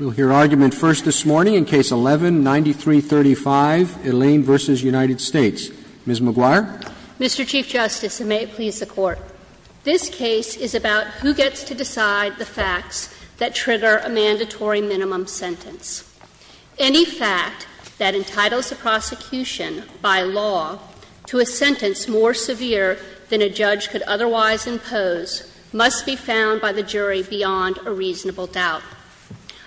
We'll hear argument first this morning in Case 11-9335, Aleyne v. United States. Ms. McGuire. Mr. Chief Justice, and may it please the Court, this case is about who gets to decide the facts that trigger a mandatory minimum sentence. Any fact that entitles a prosecution, by law, to a sentence more severe than a judge could otherwise impose must be found by the jury beyond a reasonable doubt.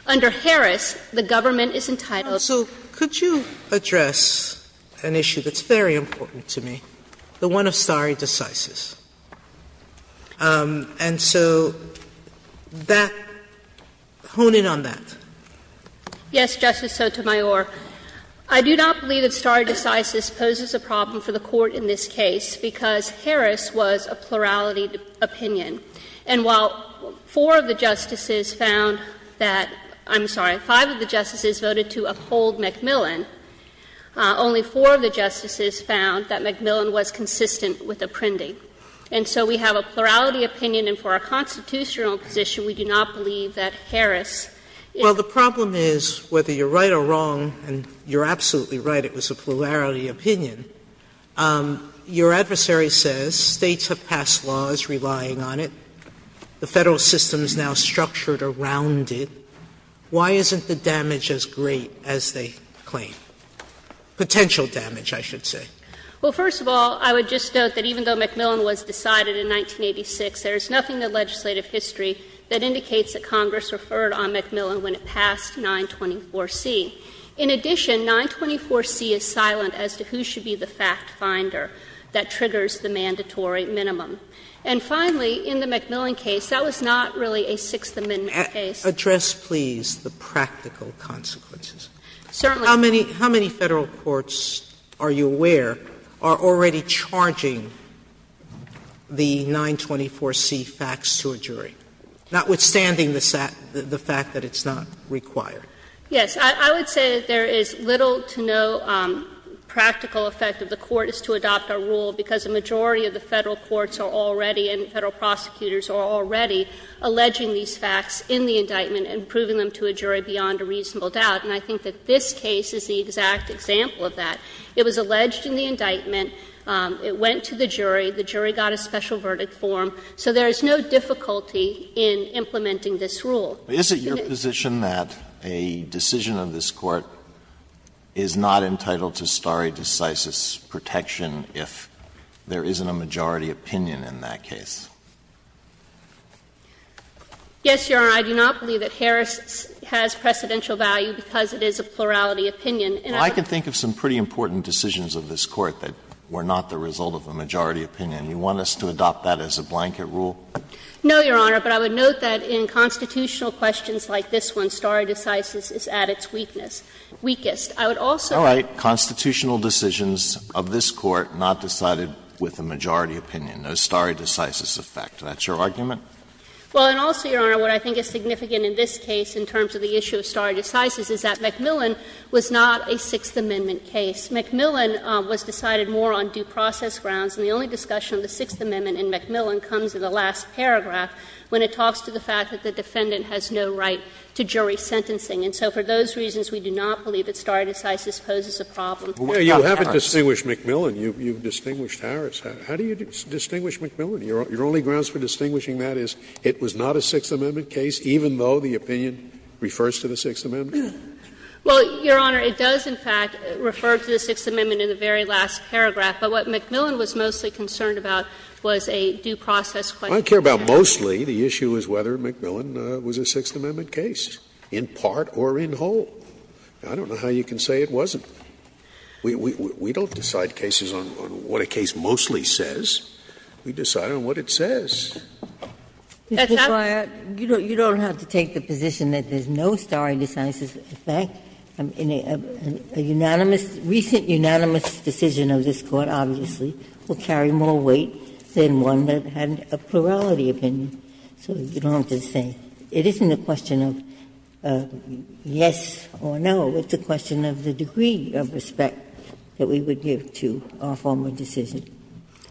Under Harris, the government is entitled to a minimum sentence. So could you address an issue that's very important to me, the one of stare decisis? And so that — hone in on that. Yes, Justice Sotomayor. I do not believe that stare decisis poses a problem for the Court in this case because Harris was a plurality opinion. And while four of the justices found that — I'm sorry, five of the justices voted to uphold McMillan, only four of the justices found that McMillan was consistent with the printing. And so we have a plurality opinion, and for a constitutional position, we do not believe that Harris is— Sotomayor, well, the problem is, whether you're right or wrong, and you're absolutely right, it was a plurality opinion, your adversary says States have passed laws relying on it, the Federal system is now structured around it. Why isn't the damage as great as they claim? Potential damage, I should say. Well, first of all, I would just note that even though McMillan was decided in 1986, there is nothing in the legislative history that indicates that Congress referred on McMillan when it passed 924C. In addition, 924C is silent as to who should be the fact finder that triggers the mandatory minimum. And finally, in the McMillan case, that was not really a Sixth Amendment case. Address, please, the practical consequences. Certainly. Sotomayor, how many Federal courts, are you aware, are already charging the 924C facts to a jury, notwithstanding the fact that it's not required? Yes. I would say there is little to no practical effect of the court is to adopt a rule, because the majority of the Federal courts are already and Federal prosecutors are already alleging these facts in the indictment and proving them to a jury beyond a reasonable doubt. And I think that this case is the exact example of that. It was alleged in the indictment, it went to the jury, the jury got a special verdict form, so there is no difficulty in implementing this rule. Is it your position that a decision of this Court is not entitled to stare decisis protection if there isn't a majority opinion in that case? Yes, Your Honor, I do not believe that Harris has precedential value because it is a plurality opinion. And I can think of some pretty important decisions of this Court that were not the result of a majority opinion. You want us to adopt that as a blanket rule? No, Your Honor, but I would note that in constitutional questions like this one, stare decisis is at its weakness, weakest. I would also. All right. Constitutional decisions of this Court not decided with a majority opinion. No stare decisis effect. That's your argument? Well, and also, Your Honor, what I think is significant in this case in terms of the issue of stare decisis is that McMillan was not a Sixth Amendment case. McMillan was decided more on due process grounds, and the only discussion of the Sixth Amendment in McMillan comes in the last paragraph when it talks to the fact that the defendant has no right to jury sentencing. And so for those reasons, we do not believe that stare decisis poses a problem for Harris. You haven't distinguished McMillan. You've distinguished Harris. How do you distinguish McMillan? Your only grounds for distinguishing that is it was not a Sixth Amendment case, even though the opinion refers to the Sixth Amendment? Well, Your Honor, it does, in fact, refer to the Sixth Amendment in the very last paragraph. But what McMillan was mostly concerned about was a due process question. I care about mostly the issue as whether McMillan was a Sixth Amendment case, in part or in whole. I don't know how you can say it wasn't. We don't decide cases on what a case mostly says. We decide on what it says. That's why you don't have to take the position that there's no stare decisis effect. A unanimous, recent unanimous decision of this Court, obviously, will carry more weight than one that had a plurality opinion, so you don't have to say. It isn't a question of yes or no. It's a question of the degree of respect that we would give to a formal decision.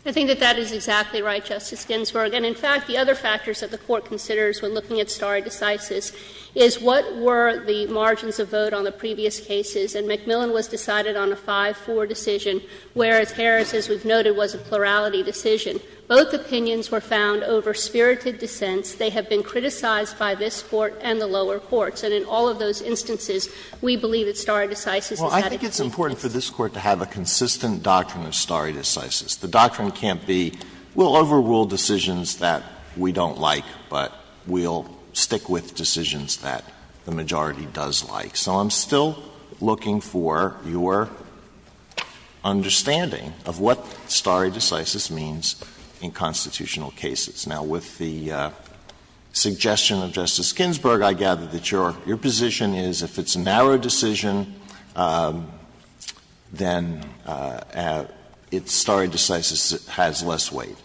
I think that that is exactly right, Justice Ginsburg. And, in fact, the other factors that the Court considers when looking at stare decisis is what were the margins of vote on the previous cases. And McMillan was decided on a 5-4 decision, whereas Harris, as we've noted, was a plurality decision. Both opinions were found over spirited dissents. They have been criticized by this Court and the lower courts. And in all of those instances, we believe that stare decisis is not a key thing. Alito, I think it's important for this Court to have a consistent doctrine of stare decisis. The doctrine can't be we'll overrule decisions that we don't like, but we'll stick with decisions that the majority does like. So I'm still looking for your understanding of what stare decisis means in constitutional cases. Now, with the suggestion of Justice Ginsburg, I gather that your position is if it's a narrow decision, then it's stare decisis has less weight.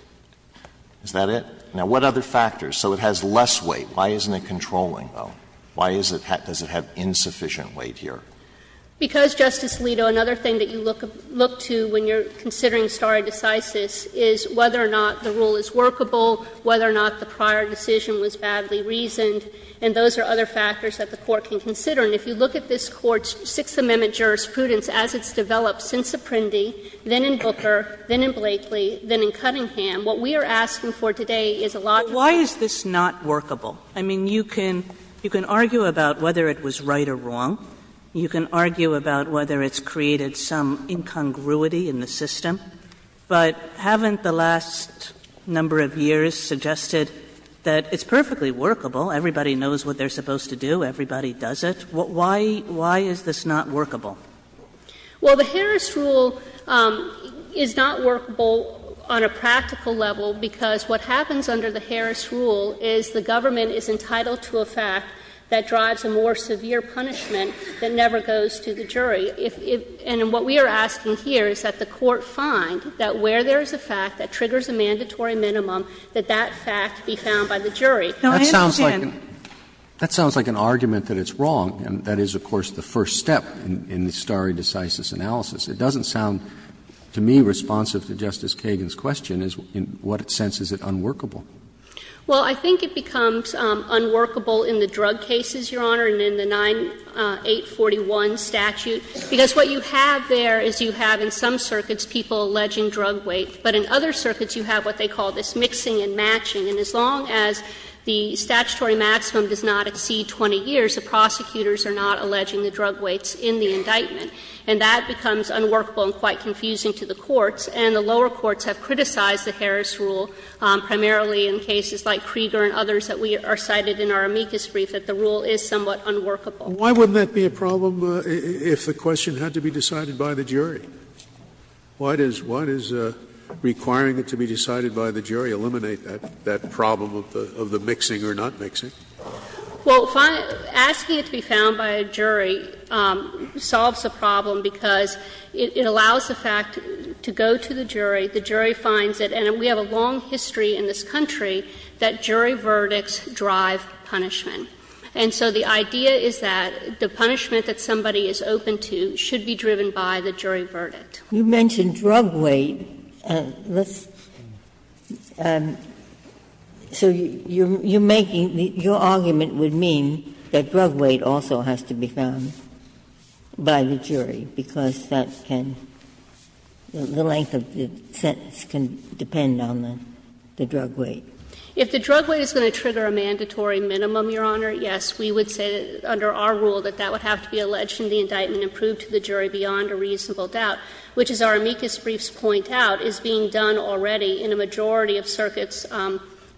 Is that it? Now, what other factors? So it has less weight. Why isn't it controlling, though? Why does it have insufficient weight here? Because, Justice Alito, another thing that you look to when you're considering a stare decisis is whether or not the rule is workable, whether or not the prior decision was badly reasoned. And those are other factors that the Court can consider. And if you look at this Court's Sixth Amendment jurisprudence as it's developed since Apprendi, then in Booker, then in Blakely, then in Cunningham, what we are asking for today is a lot more. Why is this not workable? I mean, you can argue about whether it was right or wrong. You can argue about whether it's created some incongruity in the system. But haven't the last number of years suggested that it's perfectly workable, everybody knows what they're supposed to do, everybody does it? Why is this not workable? Well, the Harris rule is not workable on a practical level, because what happens under the Harris rule is the government is entitled to a fact that drives a more severe punishment that never goes to the jury. And what we are asking here is that the Court find that where there is a fact that triggers a mandatory minimum, that that fact be found by the jury. That sounds like an argument that it's wrong, and that is, of course, the first step in the stare decisis analysis. It doesn't sound, to me, responsive to Justice Kagan's question, in what sense is it unworkable? Well, I think it becomes unworkable in the drug cases, Your Honor, and in the 9841 statute, because what you have there is you have in some circuits people alleging drug weight, but in other circuits you have what they call this mixing and matching. And as long as the statutory maximum does not exceed 20 years, the prosecutors are not alleging the drug weights in the indictment. And that becomes unworkable and quite confusing to the courts, and the lower courts have criticized the Harris rule, primarily in cases like Krieger and others that we cited in our amicus brief, that the rule is somewhat unworkable. Why wouldn't that be a problem if the question had to be decided by the jury? Why does requiring it to be decided by the jury eliminate that problem of the mixing or not mixing? Well, asking it to be found by a jury solves the problem, because it allows the fact to go to the jury, the jury finds it, and we have a long history in this country that jury verdicts drive punishment. And so the idea is that the punishment that somebody is open to should be driven by the jury verdict. Ginsburg. You mentioned drug weight. So you're making the argument would mean that drug weight also has to be found by the jury, because that can, the length of the sentence can depend on the drug weight. If the drug weight is going to trigger a mandatory minimum, Your Honor, yes, we would say under our rule that that would have to be alleged in the indictment and proved to the jury beyond a reasonable doubt, which, as our amicus briefs point out, is being done already in a majority of circuits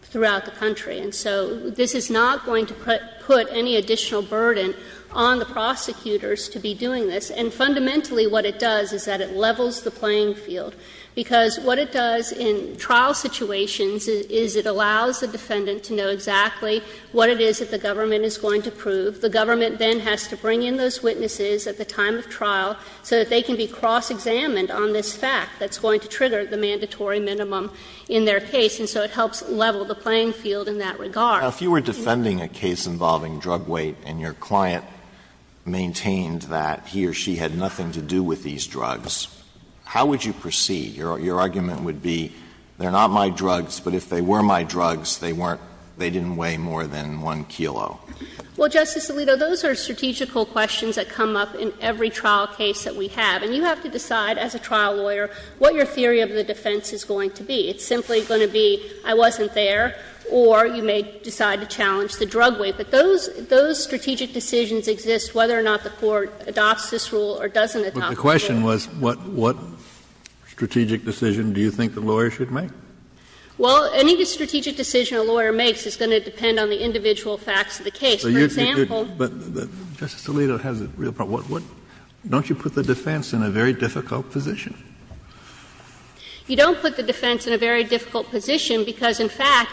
throughout the country. And so this is not going to put any additional burden on the prosecutors to be doing this, and fundamentally what it does is that it levels the playing field, because what it does in trial situations is it allows the defendant to know exactly what it is that the government is going to prove. The government then has to bring in those witnesses at the time of trial so that they can be cross-examined on this fact that's going to trigger the mandatory minimum in their case. And so it helps level the playing field in that regard. Alito, if you were defending a case involving drug weight and your client maintained that he or she had nothing to do with these drugs, how would you proceed? Your argument would be, they're not my drugs, but if they were my drugs, they weren't they didn't weigh more than 1 kilo. Well, Justice Alito, those are strategical questions that come up in every trial case that we have. And you have to decide as a trial lawyer what your theory of the defense is going to be. It's simply going to be I wasn't there, or you may decide to challenge the drug weight. But those strategic decisions exist whether or not the Court adopts this rule or doesn't adopt it. The question was what strategic decision do you think the lawyer should make? Well, any strategic decision a lawyer makes is going to depend on the individual facts of the case. For example, Justice Alito has a real problem. Don't you put the defense in a very difficult position? You don't put the defense in a very difficult position because, in fact,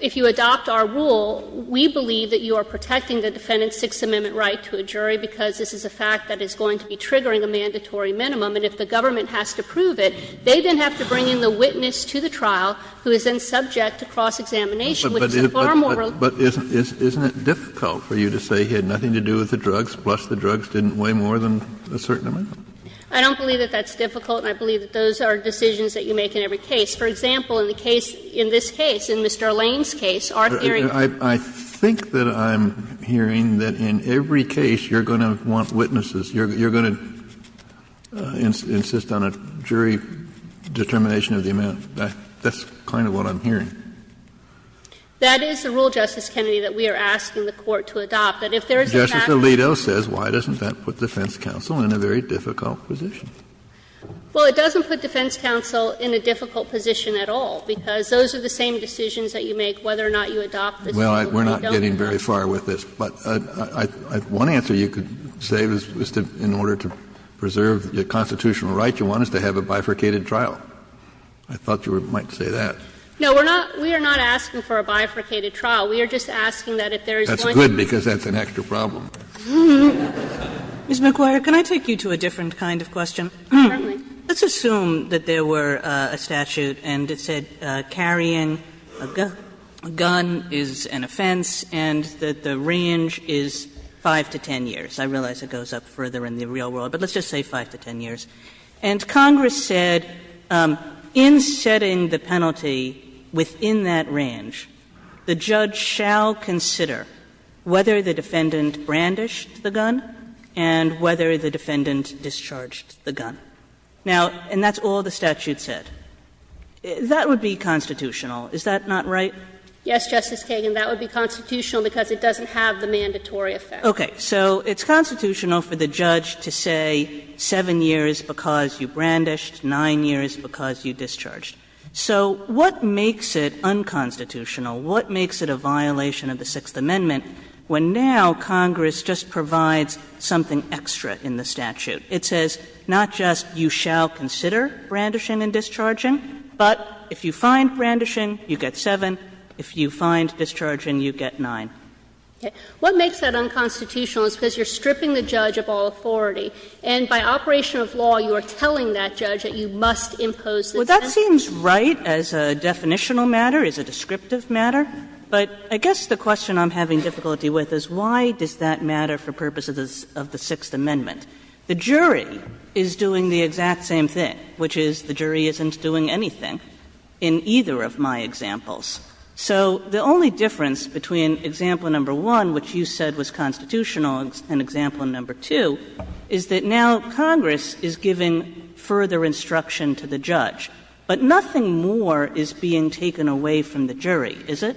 if you adopt our rule, we believe that you are protecting the defendant's Sixth Amendment right to a jury, because this is a fact that is going to be triggering a mandatory minimum, and if the government has to prove it, they then have to bring in the witness to the trial who is then subject to cross-examination, which is a far more reliable rule. Kennedy. But isn't it difficult for you to say he had nothing to do with the drugs, plus the drugs didn't weigh more than a certain amount? I don't believe that that's difficult, and I believe that those are decisions that you make in every case. For example, in the case, in this case, in Mr. Lane's case, our theory of the defense is that I'm hearing that in every case, you're going to want witnesses, you're going to insist on a jury determination of the amount. That's kind of what I'm hearing. That is the rule, Justice Kennedy, that we are asking the Court to adopt, that if there is a fact that's true. Justice Alito says, why doesn't that put defense counsel in a very difficult position? Well, it doesn't put defense counsel in a difficult position at all, because don't. Well, we're not getting very far with this. But one answer you could say in order to preserve your constitutional right, you want us to have a bifurcated trial. I thought you might say that. No, we're not we are not asking for a bifurcated trial. We are just asking that if there is one. That's good, because that's an extra problem. Ms. McGuire, can I take you to a different kind of question? Certainly. Let's assume that there were a statute and it said carrying a gun is an offense and that the range is 5 to 10 years. I realize it goes up further in the real world, but let's just say 5 to 10 years. And Congress said in setting the penalty within that range, the judge shall consider whether the defendant brandished the gun and whether the defendant discharged the gun. Now, and that's all the statute said. That would be constitutional. Is that not right? Yes, Justice Kagan. That would be constitutional because it doesn't have the mandatory effect. Okay. So it's constitutional for the judge to say 7 years because you brandished, 9 years because you discharged. So what makes it unconstitutional? What makes it a violation of the Sixth Amendment when now Congress just provides something extra in the statute? It says not just you shall consider brandishing and discharging, but if you find brandishing, you get 7, if you find discharging, you get 9. Okay. What makes that unconstitutional is because you're stripping the judge of all authority and by operation of law you are telling that judge that you must impose this penalty. Well, that seems right as a definitional matter, as a descriptive matter, but I guess the question I'm having difficulty with is why does that matter for purposes of the Sixth Amendment? The jury is doing the exact same thing, which is the jury isn't doing anything in either of my examples. So the only difference between example number one, which you said was constitutional, and example number two, is that now Congress is giving further instruction to the judge. But nothing more is being taken away from the jury, is it?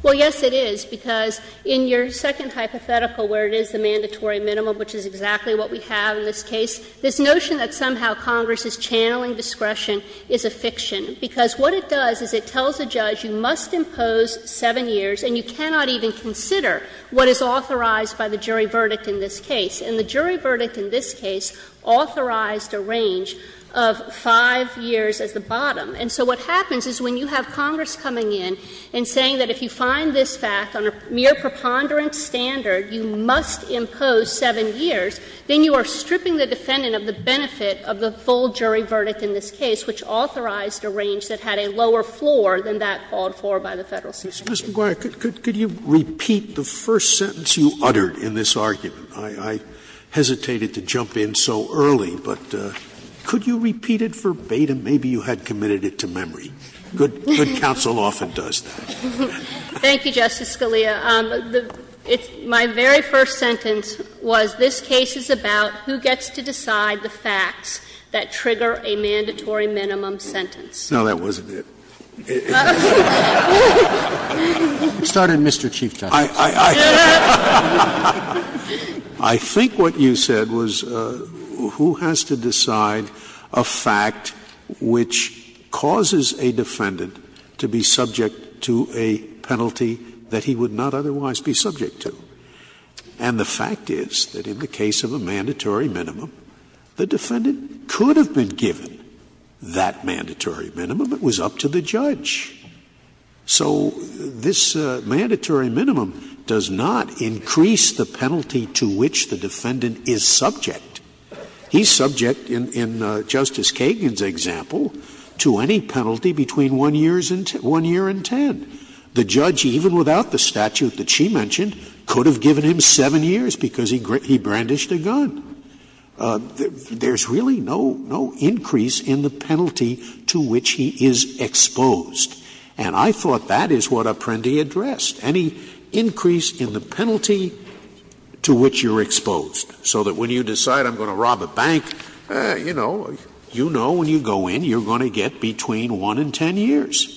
Well, yes, it is, because in your second hypothetical where it is the mandatory minimum, which is exactly what we have in this case, this notion that somehow Congress is channeling discretion is a fiction, because what it does is it tells a judge you must impose 7 years and you cannot even consider what is authorized by the jury verdict in this case. And the jury verdict in this case authorized a range of 5 years as the bottom. And so what happens is when you have Congress coming in and saying that if you find this fact on a mere preponderance standard, you must impose 7 years, then you are stripping the defendant of the benefit of the full jury verdict in this case, which authorized a range that had a lower floor than that called for by the Federal Supreme Court. Sotomayor, could you repeat the first sentence you uttered in this argument? I hesitated to jump in so early, but could you repeat it verbatim? Maybe you had committed it to memory. Good counsel often does that. Thank you, Justice Scalia. My very first sentence was, this case is about who gets to decide the facts that trigger a mandatory minimum sentence. No, that wasn't it. It started in Mr. Chief Justice. I think what you said was who has to decide a fact which causes a defendant to be subject to a penalty that he would not otherwise be subject to. And the fact is that in the case of a mandatory minimum, the defendant could have been given that mandatory minimum. It was up to the judge. So this mandatory minimum does not increase the penalty to which the defendant is subject. He's subject, in Justice Kagan's example, to any penalty between 1 year and 10. The judge, even without the statute that she mentioned, could have given him 7 years because he brandished a gun. There's really no increase in the penalty to which he is exposed. And I thought that is what Apprendi addressed, any increase in the penalty to which you're exposed, so that when you decide I'm going to rob a bank, you know, you know when you go in, you're going to get between 1 and 10 years.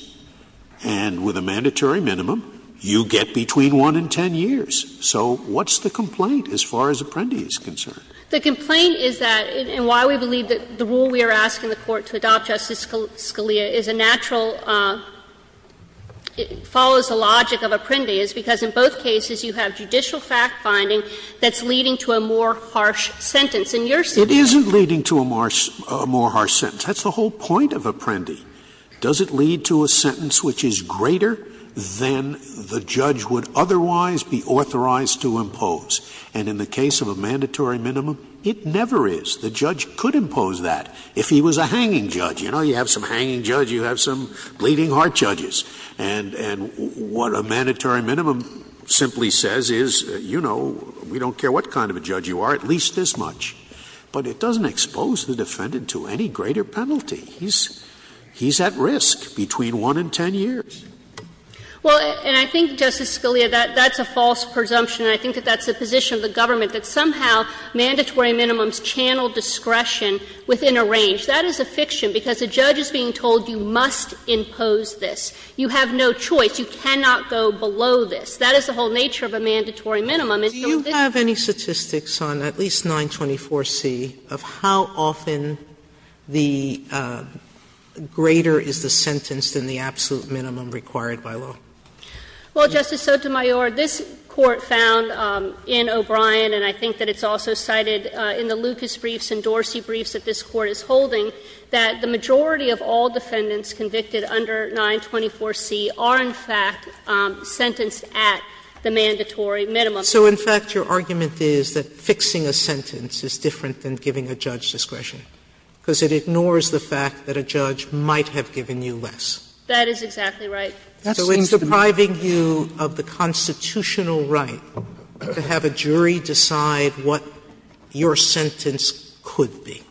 And with a mandatory minimum, you get between 1 and 10 years. So what's the complaint as far as Apprendi is concerned? The complaint is that, in why we believe that the rule we are asking the Court to adopt, Justice Scalia, is a natural, follows the logic of Apprendi, is because in both cases you have judicial fact-finding that's leading to a more harsh sentence. In your situation you have a more harsh sentence. It isn't leading to a more harsh sentence. That's the whole point of Apprendi. Does it lead to a sentence which is greater than the judge would otherwise be authorized to impose? And in the case of a mandatory minimum, it never is. The judge could impose that if he was a hanging judge. You know, you have some hanging judges, you have some bleeding-heart judges. And what a mandatory minimum simply says is, you know, we don't care what kind of a judge you are, at least this much. But it doesn't expose the defendant to any greater penalty. He's at risk between 1 and 10 years. Well, and I think, Justice Scalia, that that's a false presumption, and I think that that's the position of the government, that somehow mandatory minimums channel discretion within a range. That is a fiction, because a judge is being told you must impose this. You have no choice. You cannot go below this. That is the whole nature of a mandatory minimum. It's not this. Sotomayor, do you have any statistics on at least 924C of how often the greater is the sentence than the absolute minimum required by law? Well, Justice Sotomayor, this Court found in O'Brien, and I think that it's also cited in the Lucas briefs and Dorsey briefs that this Court is holding, that the greater than 924C are, in fact, sentenced at the mandatory minimum. So in fact, your argument is that fixing a sentence is different than giving a judge discretion, because it ignores the fact that a judge might have given you less. That is exactly right. So in depriving you of the constitutional right to have a jury decide what your sentence could be.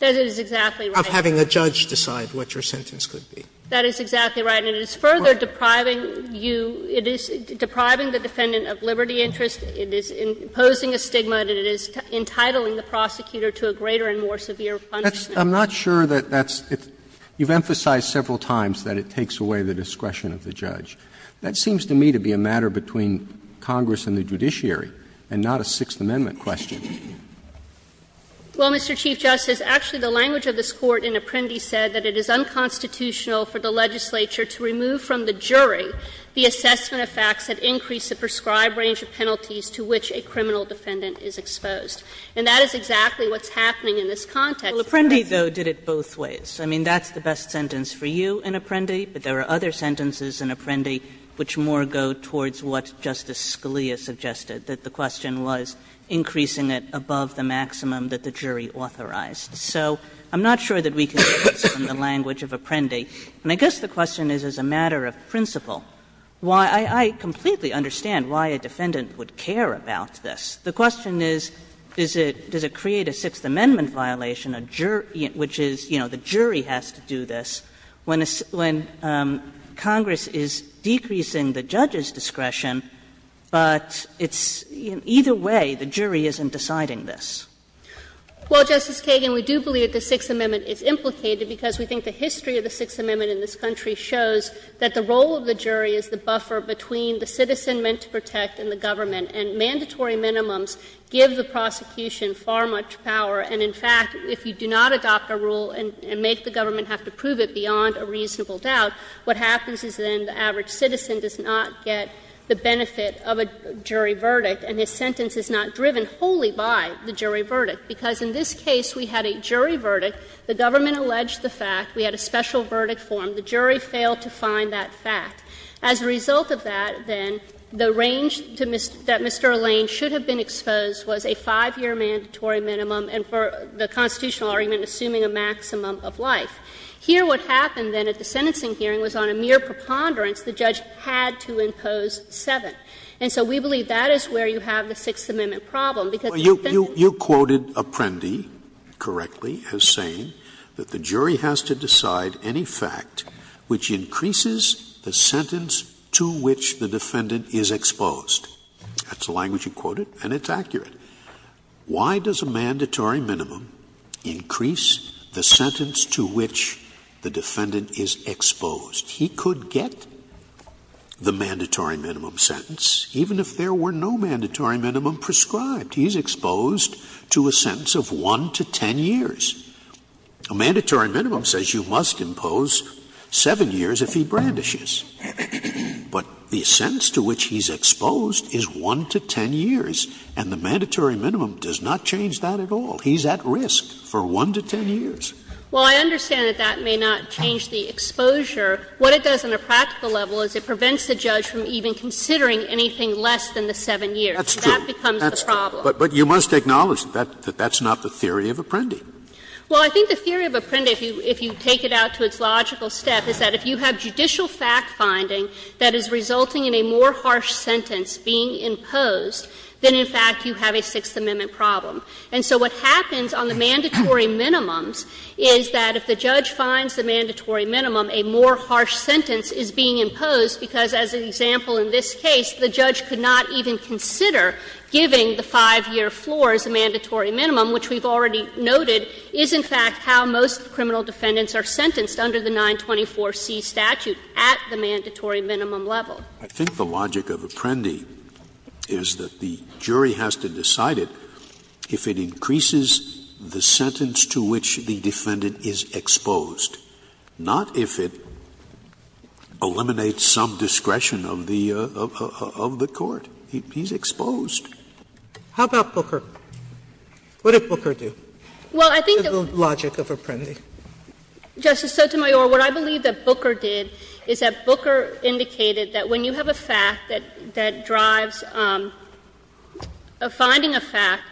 That is exactly right. Of having a judge decide what your sentence could be. That is exactly right. And it is further depriving you – it is depriving the defendant of liberty interest. It is imposing a stigma that it is entitling the prosecutor to a greater and more severe punishment. I'm not sure that that's – you've emphasized several times that it takes away the discretion of the judge. That seems to me to be a matter between Congress and the judiciary and not a Sixth Amendment question. Well, Mr. Chief Justice, actually the language of this Court in Apprendi said that it is unconstitutional for the legislature to remove from the jury the assessment of facts that increase the prescribed range of penalties to which a criminal defendant is exposed. And that is exactly what's happening in this context. Well, Apprendi, though, did it both ways. I mean, that's the best sentence for you in Apprendi, but there are other sentences in Apprendi which more go towards what Justice Scalia suggested, that the question was increasing it above the maximum that the jury authorized. So I'm not sure that we can get this from the language of Apprendi. And I guess the question is, as a matter of principle, why – I completely understand why a defendant would care about this. The question is, does it create a Sixth Amendment violation, which is, you know, the jury has to do this, when Congress is decreasing the judge's discretion, but it's – either way, the jury isn't deciding this. Well, Justice Kagan, we do believe that the Sixth Amendment is implicated, because we think the history of the Sixth Amendment in this country shows that the role of the jury is the buffer between the citizen meant to protect and the government. And mandatory minimums give the prosecution far much power. And, in fact, if you do not adopt a rule and make the government have to prove it beyond a reasonable doubt, what happens is then the average citizen does not get the benefit of a jury verdict, and his sentence is not driven wholly by the jury verdict. Because in this case, we had a jury verdict, the government alleged the fact, we had a special verdict form, the jury failed to find that fact. As a result of that, then, the range that Mr. Lane should have been exposed was a 5-year mandatory minimum, and for the constitutional argument, assuming a maximum of life. Here, what happened then at the sentencing hearing was on a mere preponderance, the judge had to impose 7. And so we believe that is where you have the Sixth Amendment problem, because you think that's the case. Scalia You quoted Apprendi correctly as saying that the jury has to decide any fact which increases the sentence to which the defendant is exposed. That's the language you quoted, and it's accurate. Why does a mandatory minimum increase the sentence to which the defendant is exposed? He could get the mandatory minimum sentence even if there were no mandatory minimum prescribed. He's exposed to a sentence of 1 to 10 years. A mandatory minimum says you must impose 7 years if he brandishes. But the sentence to which he's exposed is 1 to 10 years, and the mandatory minimum does not change that at all. He's at risk for 1 to 10 years. Well, I understand that that may not change the exposure. What it does on a practical level is it prevents the judge from even considering anything less than the 7 years. That becomes the problem. Scalia That's true. But you must acknowledge that that's not the theory of Apprendi. Well, I think the theory of Apprendi, if you take it out to its logical step, is that if you have judicial fact-finding that is resulting in a more harsh sentence being imposed, then in fact you have a Sixth Amendment problem. And so what happens on the mandatory minimums is that if the judge finds the mandatory minimum, a more harsh sentence is being imposed because, as an example in this case, the judge could not even consider giving the 5-year floor as a mandatory minimum, which we've already noted is in fact how most criminal defendants are sentenced under the 924C statute at the mandatory minimum level. Scalia I think the logic of Apprendi is that the jury has to decide it if it increases the sentence to which the defendant is exposed, not if it eliminates some discretion of the court. He's exposed. Sotomayor How about Booker? What did Booker do? The logic of Apprendi. Justice Sotomayor, what I believe that Booker did is that Booker indicated that when you have a fact that drives a finding of fact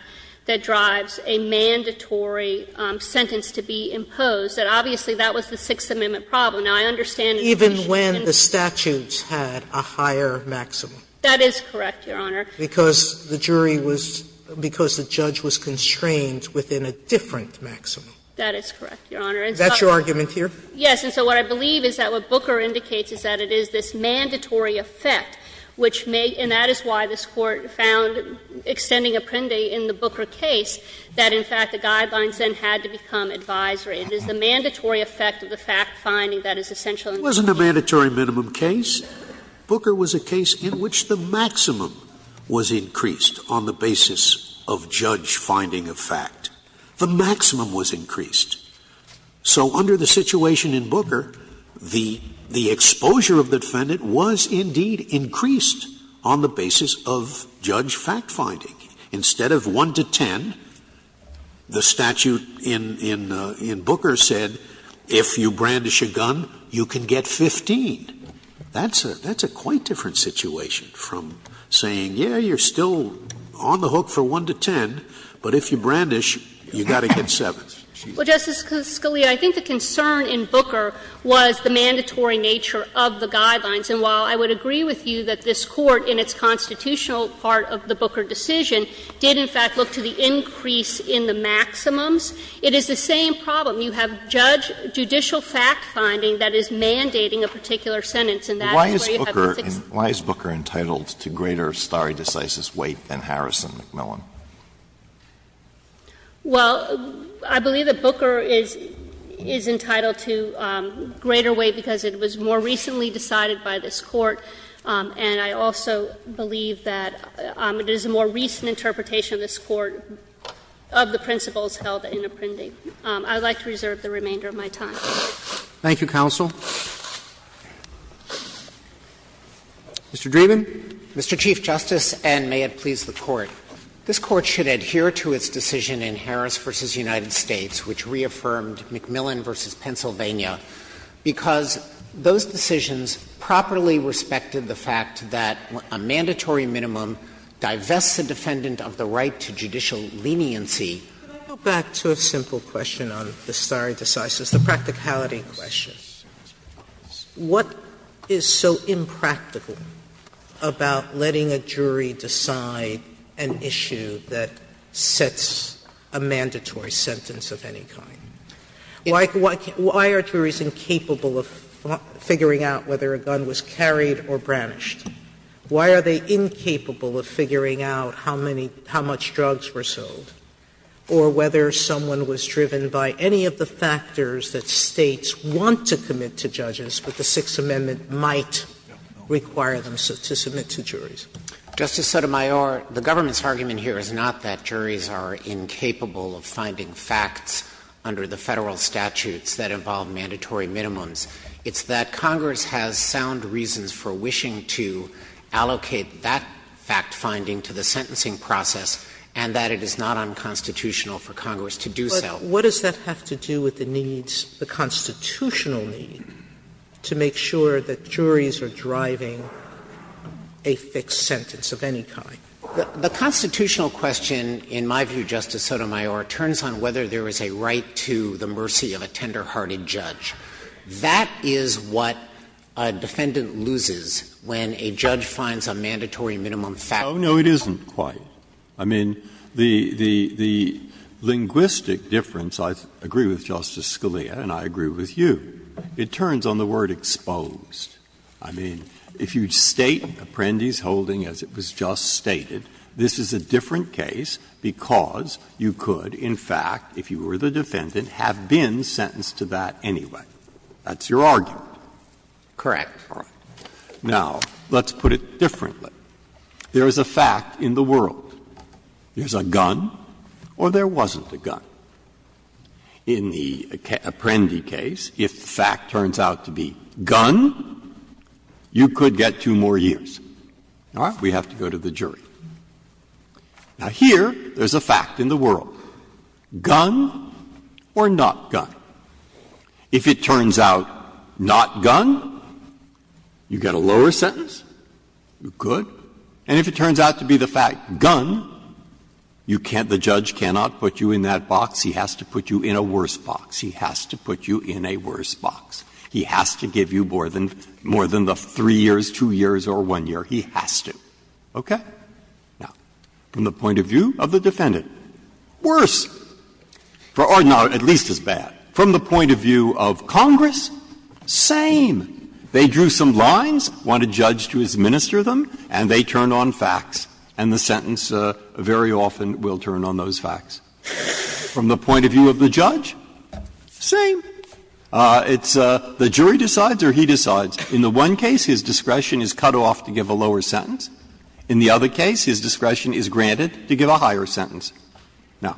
that drives a mandatory sentence to be imposed, that obviously that was the Sixth Amendment problem. Now, I understand that you shouldn't Sotomayor Even when the statutes had a higher maximum. That is correct, Your Honor. Because the jury was – because the judge was constrained within a different maximum. That is correct, Your Honor. Is that your argument here? Yes. And so what I believe is that what Booker indicates is that it is this mandatory effect, which may – and that is why this Court found, extending Apprendi in the Booker case, that in fact the guidelines then had to become advisory. It is the mandatory effect of the fact finding that is essential in this case. Scalia It wasn't a mandatory minimum case. Booker was a case in which the maximum was increased on the basis of judge finding a fact. The maximum was increased. So under the situation in Booker, the exposure of the defendant was indeed increased on the basis of judge fact finding. Instead of 1 to 10, the statute in Booker said if you brandish a gun, you can get 15. That's a quite different situation from saying, yes, you are still on the hook for 1 to 10, but if you brandish, you've got to get 7. Kagan Well, Justice Scalia, I think the concern in Booker was the mandatory nature of the guidelines. And while I would agree with you that this Court in its constitutional part of the Booker decision did in fact look to the increase in the maximums, it is the same problem. You have judge – judicial fact finding that is mandating a particular sentence, and that's where you have the fixed – Alito Why is Booker entitled to greater stare decisis weight than Harrison McMillan? Kagan Well, I believe that Booker is entitled to greater weight because it was more recently decided by this Court. And I also believe that it is a more recent interpretation of this Court of the principles held in Apprendi. I would like to reserve the remainder of my time. Roberts Thank you, counsel. Mr. Dreeben. Dreeben Mr. Chief Justice, and may it please the Court. This Court should adhere to its decision in Harris v. United States, which reaffirmed McMillan v. Pennsylvania, because those decisions properly respected the fact that a mandatory minimum divests the defendant of the right to judicial leniency. Sotomayor Can I go back to a simple question on the stare decisis, the practicality question? What is so impractical about letting a jury decide an issue that sets a mandatory sentence of any kind? Why are juries incapable of figuring out whether a gun was carried or branished? Why are they incapable of figuring out how many – how much drugs were sold, or whether someone was driven by any of the factors that States want to commit to judges, but the Sixth Amendment might require them to submit to juries? Dreeben Justice Sotomayor, the government's argument here is not that juries are incapable of finding facts under the Federal statutes that involve mandatory minimums. It's that Congress has sound reasons for wishing to allocate that fact-finding to the sentencing process, and that it is not unconstitutional for Congress to do so. Sotomayor But what does that have to do with the needs, the constitutional need, to make sure that juries are driving a fixed sentence of any kind? Dreeben The constitutional question, in my view, Justice Sotomayor, turns on whether there is a right to the mercy of a tender-hearted judge. That is what a defendant loses when a judge finds a mandatory minimum fact-finding. Breyer No, no, it isn't quite. I mean, the linguistic difference, I agree with Justice Scalia and I agree with you, it turns on the word exposed. I mean, if you state, Apprendi's holding, as it was just stated, this is a different case because you could, in fact, if you were the defendant, have been sentenced to that anyway. That's your argument. Dreeben Correct. Breyer Now, let's put it differently. There is a fact in the world. There's a gun or there wasn't a gun. In the Apprendi case, if the fact turns out to be gun, you could get two more years. All right? We have to go to the jury. Now, here, there's a fact in the world. Gun or not gun? If it turns out not gun, you get a lower sentence, you're good. And if it turns out to be the fact gun, you can't, the judge cannot put you in that box. He has to put you in a worse box. He has to put you in a worse box. He has to give you more than the three years, two years or one year. He has to. Okay? Now, from the point of view of the defendant, worse, or not at least as bad. From the point of view of Congress, same. They drew some lines, want a judge to administer them, and they turn on facts. And the sentence very often will turn on those facts. From the point of view of the judge, same. It's the jury decides or he decides. In the one case, his discretion is cut off to give a lower sentence. In the other case, his discretion is granted to give a higher sentence. Now,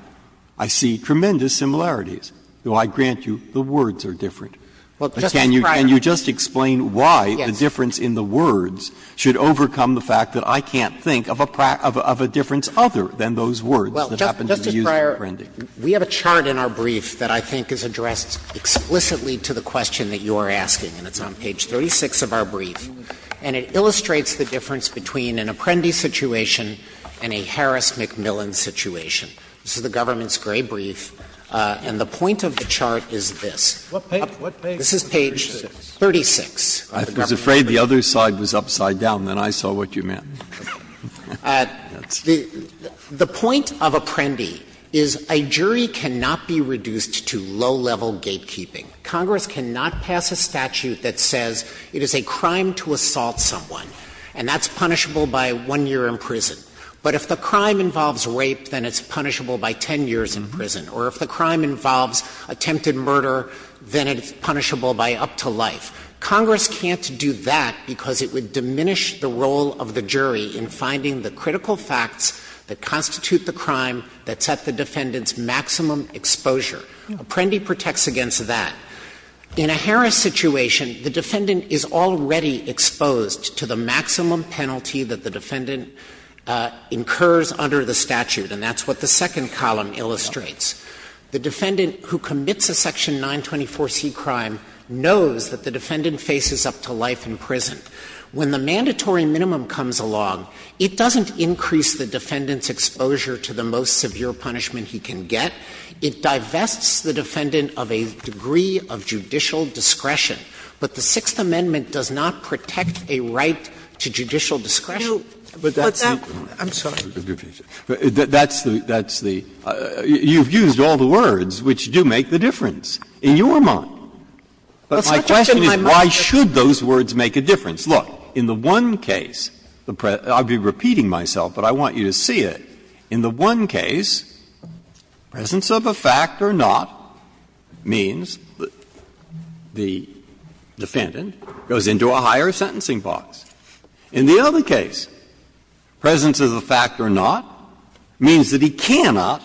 I see tremendous similarities, though I grant you the words are different. But can you just explain why the difference in the words should overcome the fact that I can't think of a difference other than those words that happen to be used in Apprendi? Dreeben, we have a chart in our brief that I think is addressed explicitly to the question that you are asking, and it's on page 36 of our brief. And it illustrates the difference between an Apprendi situation and a Harris-McMillan situation. This is the government's gray brief, and the point of the chart is this. This is page 36. Breyer, I was afraid the other side was upside down, then I saw what you meant. The point of Apprendi is a jury cannot be reduced to low-level gatekeeping. Congress cannot pass a statute that says it is a crime to assault someone, and that's punishable by 1 year in prison. But if the crime involves rape, then it's punishable by 10 years in prison. Or if the crime involves attempted murder, then it's punishable by up to life. Congress can't do that because it would diminish the role of the jury in finding the critical facts that constitute the crime that set the defendant's maximum exposure. Apprendi protects against that. In a Harris situation, the defendant is already exposed to the maximum penalty that the defendant incurs under the statute, and that's what the second column illustrates. The defendant who commits a section 924C crime knows that the defendant faces up to life in prison. When the mandatory minimum comes along, it doesn't increase the defendant's exposure to the most severe punishment he can get. It divests the defendant of a degree of judicial discretion. But the Sixth Amendment does not protect a right to judicial discretion. Breyer, I'm sorry. Breyer, that's the you've used all the words which do make the difference in your mind. But my question is why should those words make a difference? Look, in the one case, I'll be repeating myself, but I want you to see it. In the one case, presence of a fact or not means that the defendant goes into a higher sentencing box. In the other case, presence of the fact or not means that he cannot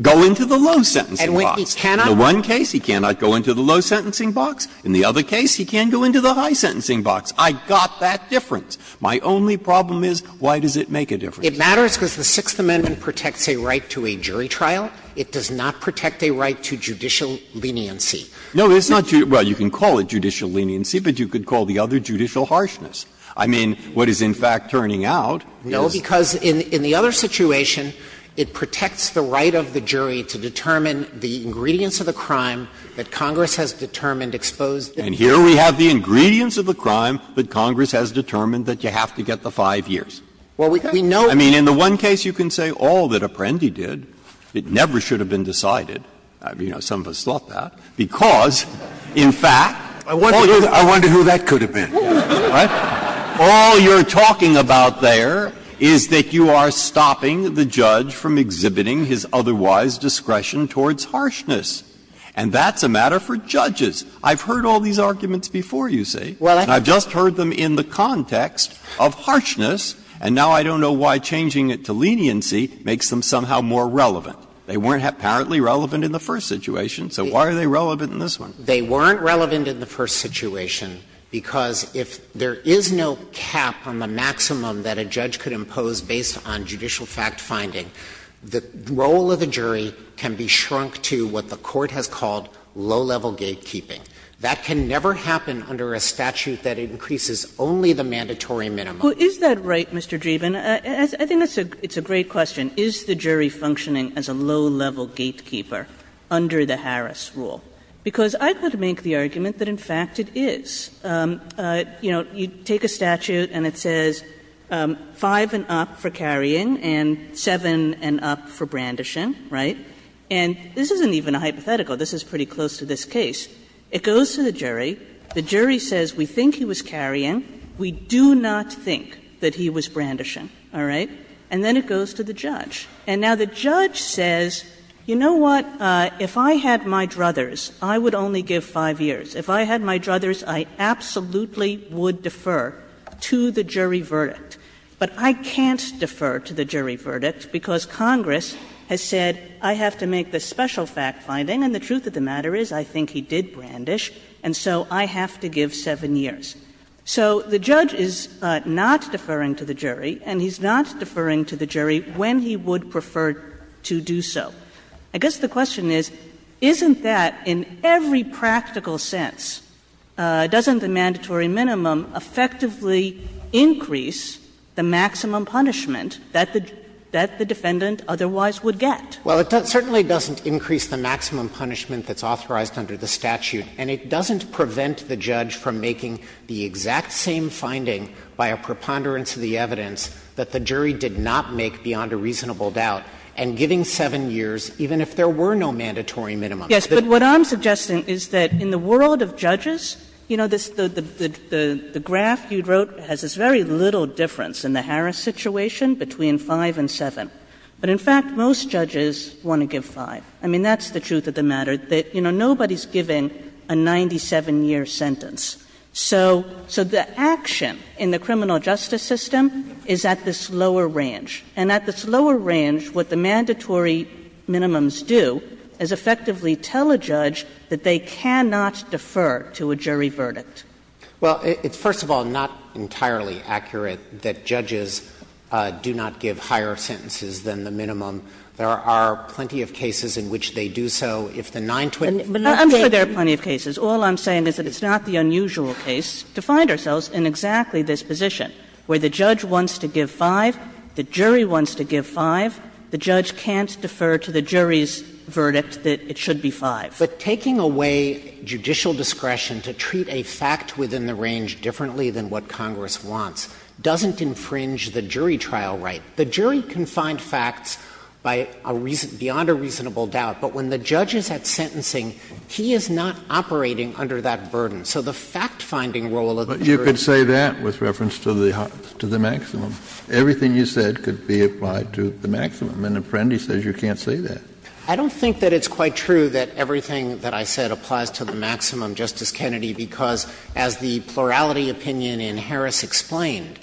go into the low sentencing box. In the one case, he cannot go into the low sentencing box. In the other case, he can go into the high sentencing box. I got that difference. My only problem is why does it make a difference? It matters because the Sixth Amendment protects a right to a jury trial. It does not protect a right to judicial leniency. No, it's not. Well, you can call it judicial leniency, but you could call the other judicial harshness. I mean, what is in fact turning out is no, because in the other situation, it protects the right of the jury to determine the ingredients of the crime that Congress has determined exposed. And here we have the ingredients of the crime that Congress has determined that you have to get the 5 years. Well, we know. I mean, in the one case, you can say all that Apprendi did, it never should have been decided. You know, some of us thought that, because, in fact, all you're talking about there is that you are stopping the judge from exhibiting his otherwise discretion towards harshness, and that's a matter for judges. I've heard all these arguments before, you see, and I've just heard them in the context of harshness, and now I don't know why changing it to leniency makes them somehow more relevant. They weren't apparently relevant in the first situation, so why are they relevant in this one? They weren't relevant in the first situation, because if there is no cap on the maximum that a judge could impose based on judicial fact-finding, the role of the jury can be shrunk to what the Court has called low-level gatekeeping. That can never happen under a statute that increases only the mandatory minimum. Kagan Well, is that right, Mr. Dreeben? I think that's a great question. Is the jury functioning as a low-level gatekeeper under the Harris rule? Because I could make the argument that, in fact, it is. You know, you take a statute and it says 5 and up for carrying and 7 and up for brandishing, right? And this isn't even a hypothetical. This is pretty close to this case. It goes to the jury. The jury says we think he was carrying. We do not think that he was brandishing, all right? And then it goes to the judge. And now the judge says, you know what, if I had my druthers, I would only give 5 years. If I had my druthers, I absolutely would defer to the jury verdict. But I can't defer to the jury verdict, because Congress has said, I have to make this special fact finding, and the truth of the matter is, I think he did brandish. And so I have to give 7 years. So the judge is not deferring to the jury, and he's not deferring to the jury when he would prefer to do so. I guess the question is, isn't that, in every practical sense, doesn't the mandatory minimum effectively increase the maximum punishment that the defendant otherwise would get? Well, it certainly doesn't increase the maximum punishment that's authorized under the statute, and it doesn't prevent the judge from making the exact same finding by a preponderance of the evidence that the jury did not make beyond a reasonable doubt, and giving 7 years, even if there were no mandatory minimum. Yes, but what I'm suggesting is that in the world of judges, you know, the graph you wrote has this very little difference in the Harris situation between 5 and 7. But in fact, most judges want to give 5. I mean, that's the truth of the matter, that, you know, nobody's giving a 97-year sentence. So the action in the criminal justice system is at this lower range. And at this lower range, what the mandatory minimums do is effectively tell a judge that they cannot defer to a jury verdict. Well, it's first of all not entirely accurate that judges do not give higher sentences than the minimum. There are plenty of cases in which they do so. If the 920- But I'm sure there are plenty of cases. All I'm saying is that it's not the unusual case to find ourselves in exactly this position, where the judge wants to give 5, the jury wants to give 5, the judge can't defer to the jury's verdict that it should be 5. But taking away judicial discretion to treat a fact within the range differently than what Congress wants doesn't infringe the jury trial right. The jury can find facts by a reason — beyond a reasonable doubt. But when the judge is at sentencing, he is not operating under that burden. So the fact-finding role of the jury— But you could say that with reference to the maximum. Everything you said could be applied to the maximum. An apprentice says you can't say that. I don't think that it's quite true that everything that I said applies to the maximum, Justice Kennedy, because as the plurality opinion in Harris explained,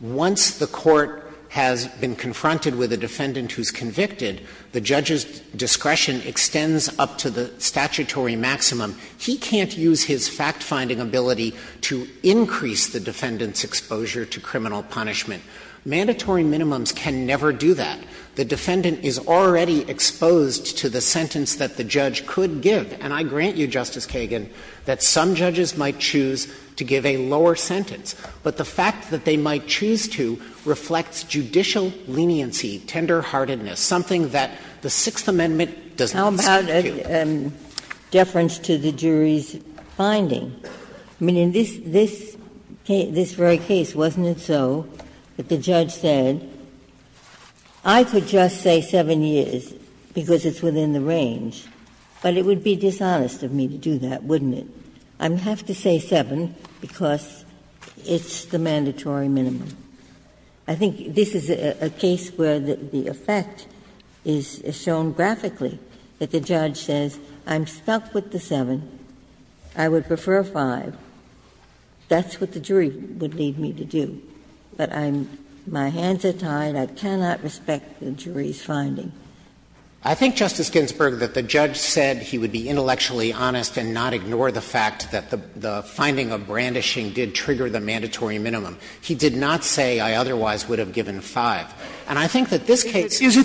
once the court has been confronted with a defendant who's convicted, the judge's discretion extends up to the statutory maximum. He can't use his fact-finding ability to increase the defendant's exposure to criminal punishment. Mandatory minimums can never do that. The defendant is already exposed to the sentence that the judge could give. And I grant you, Justice Kagan, that some judges might choose to give a lower sentence. But the fact that they might choose to reflects judicial leniency, tenderheartedness, something that the Sixth Amendment doesn't speak to. How about a deference to the jury's finding? I mean, in this very case, wasn't it so that the judge said, I could just say 7 years because it's within the range, but it would be dishonest of me to do that, wouldn't it? I have to say 7 because it's the mandatory minimum. I think this is a case where the effect is shown graphically, that the judge says, I'm stuck with the 7, I would prefer 5, that's what the jury would need me to do. But I'm, my hands are tied, I cannot respect the jury's finding. I think, Justice Ginsburg, that the judge said he would be intellectually honest and not ignore the fact that the finding of brandishing did trigger the mandatory minimum. He did not say, I otherwise would have given 5. And I think that this case is a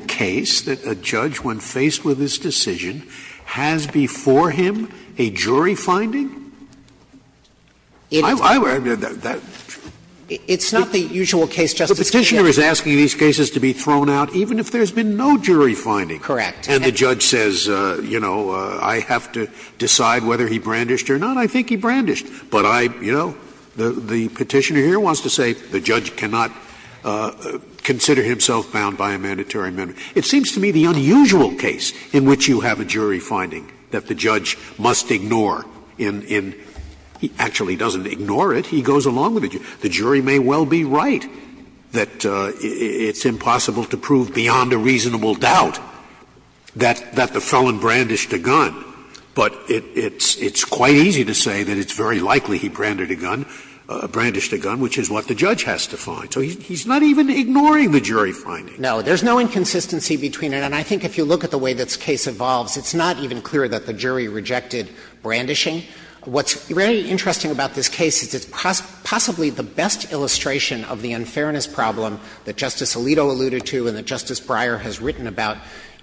case where the judge, when faced with this decision, has before him a jury finding. I mean, that's true. It's not the usual case, Justice Scalia. The Petitioner is asking these cases to be thrown out even if there's been no jury finding. Correct. And the judge says, you know, I have to decide whether he brandished or not. I think he brandished. But I, you know, the Petitioner here wants to say the judge cannot consider himself bound by a mandatory minimum. It seems to me the unusual case in which you have a jury finding that the judge must ignore in, he actually doesn't ignore it, he goes along with it. The jury may well be right that it's impossible to prove beyond a reasonable doubt that the felon brandished a gun, but it's quite easy to say that it's very likely he branded a gun, brandished a gun, which is what the judge has to find. So he's not even ignoring the jury finding. No. There's no inconsistency between it. And I think if you look at the way this case evolves, it's not even clear that the jury rejected brandishing. What's very interesting about this case is it's possibly the best illustration of the unfairness problem that Justice Alito alluded to and that Justice Breyer has written about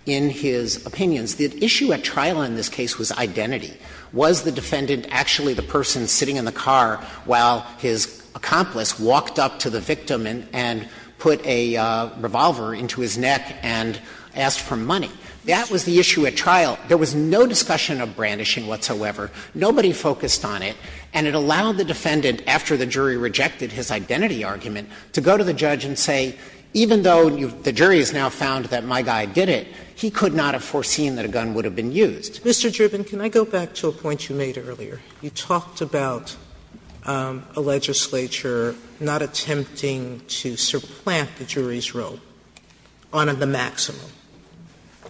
in his opinions. The issue at trial in this case was identity. Was the defendant actually the person sitting in the car while his accomplice walked up to the victim and put a revolver into his neck and asked for money? That was the issue at trial. There was no discussion of brandishing whatsoever. Nobody focused on it. And it allowed the defendant, after the jury rejected his identity argument, to go to the judge and say, even though the jury has now found that my guy did it, he could not have foreseen that a gun would have been used. Sotomayor, can I go back to a point you made earlier? You talked about a legislature not attempting to supplant the jury's role on the maximum.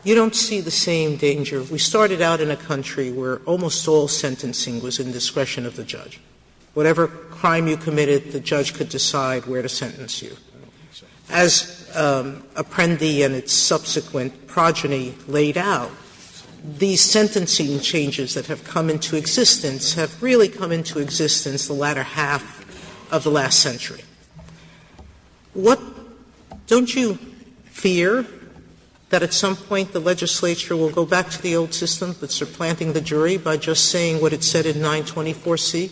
You don't see the same danger. We started out in a country where almost all sentencing was in discretion of the judge. Whatever crime you committed, the judge could decide where to sentence you. As Apprendi and its subsequent progeny laid out, these sentencing changes that have come into existence have really come into existence the latter half of the last century. Don't you fear that at some point the legislature will go back to the old system that's supplanting the jury by just saying what it said in 924C?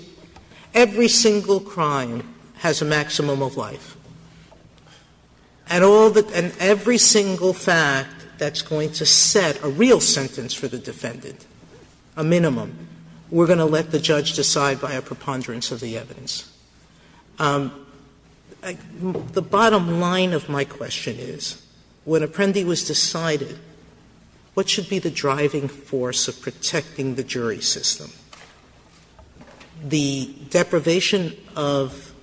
Every single crime has a maximum of life. And every single fact that's going to set a real sentence for the defendant, a minimum, we're going to let the judge decide by a preponderance of the evidence. The bottom line of my question is, when Apprendi was decided, what should be the driving force of protecting the jury system? The deprivation of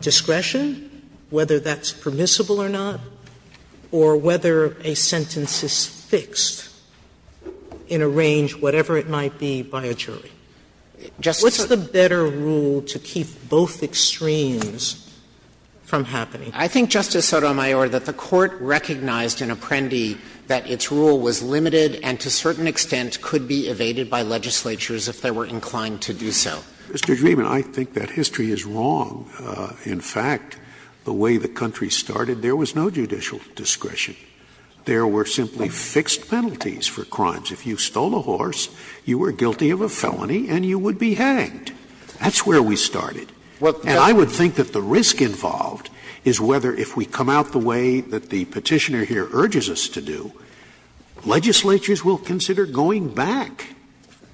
discretion, whether that's permissible or not, or whether a sentence is fixed in a range, whatever it might be, by a jury. What's the better rule to keep both extremes from happening? I think, Justice Sotomayor, that the Court recognized in Apprendi that its rule was limited and to a certain extent could be evaded by legislatures if they were inclined to do so. Mr. Dreeben, I think that history is wrong. In fact, the way the country started, there was no judicial discretion. There were simply fixed penalties for crimes. If you stole a horse, you were guilty of a felony and you would be hanged. That's where we started. And I would think that the risk involved is whether if we come out the way that the Petitioner here urges us to do, legislatures will consider going back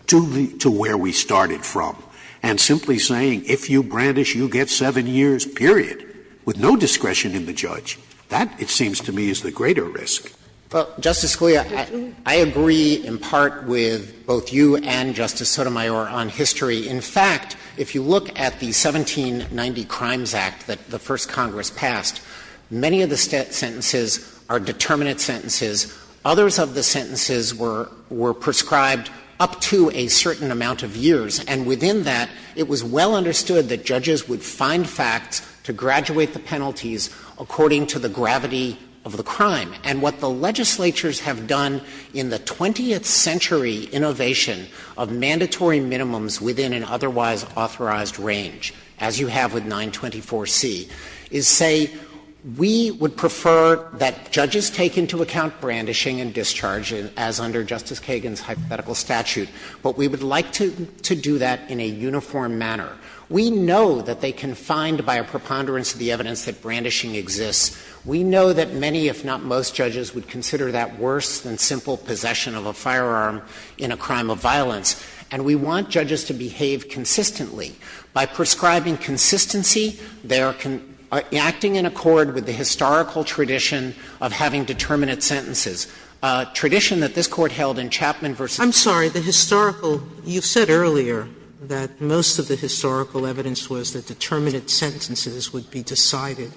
to where we started from and simply saying, if you brandish, you get 7 years, period, with no discretion in the judge. That, it seems to me, is the greater risk. Well, Justice Scalia, I agree in part with both you and Justice Sotomayor on history. In fact, if you look at the 1790 Crimes Act that the First Congress passed, many of the sentences are determinate sentences. Others of the sentences were prescribed up to a certain amount of years. And within that, it was well understood that judges would find facts to graduate the penalties according to the gravity of the crime. And what the legislatures have done in the 20th century innovation of mandatory minimums within an otherwise authorized range, as you have with 924C, is say, we would prefer that judges take into account brandishing and discharging as under Justice Kagan's hypothetical statute, but we would like to do that in a uniform manner. We know that they can find, by a preponderance of the evidence, that brandishing exists. We know that many, if not most, judges would consider that worse than simple possession of a firearm in a crime of violence. And we want judges to behave consistently. By prescribing consistency, they are acting in accord with the historical tradition of having determinate sentences, a tradition that this Court held in Chapman v. Sotomayor. Sotomayor, the historical – you've said earlier that most of the historical evidence was that determinate sentences would be decided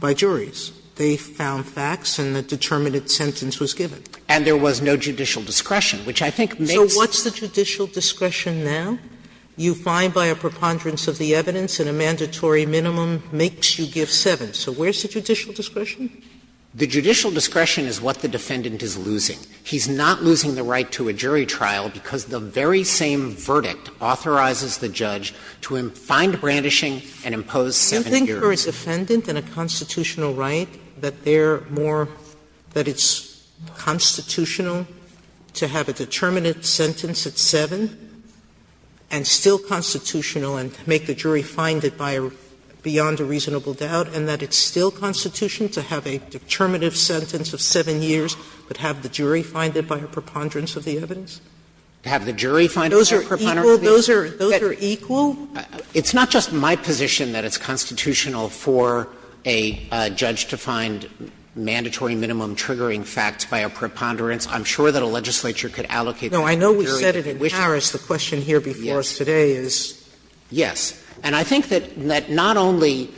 by juries. They found facts and the determinate sentence was given. And there was no judicial discretion, which I think makes the case that the judicial discretion is not a mandatory minimum. So what's the judicial discretion now? You find by a preponderance of the evidence in a mandatory minimum makes you give seven. So where's the judicial discretion? The judicial discretion is what the defendant is losing. He's not losing the right to a jury trial because the very same verdict authorizes the judge to find brandishing and impose seven years. Sotomayor, do you think for a defendant in a constitutional right that they're more – that it's constitutional to have a determinate sentence at seven and still constitutional and make the jury find it by a – beyond a reasonable doubt, and that it's still constitutional to have a determinative sentence of seven years but have the jury find it by a preponderance of the evidence? To have the jury find it by a preponderance of the evidence? Sotomayor, those are equal? It's not just my position that it's constitutional for a judge to find mandatory minimum triggering facts by a preponderance. I'm sure that a legislature could allocate that to a jury. No, I know we said it in Paris. The question here before us today is. Yes. And I think that not only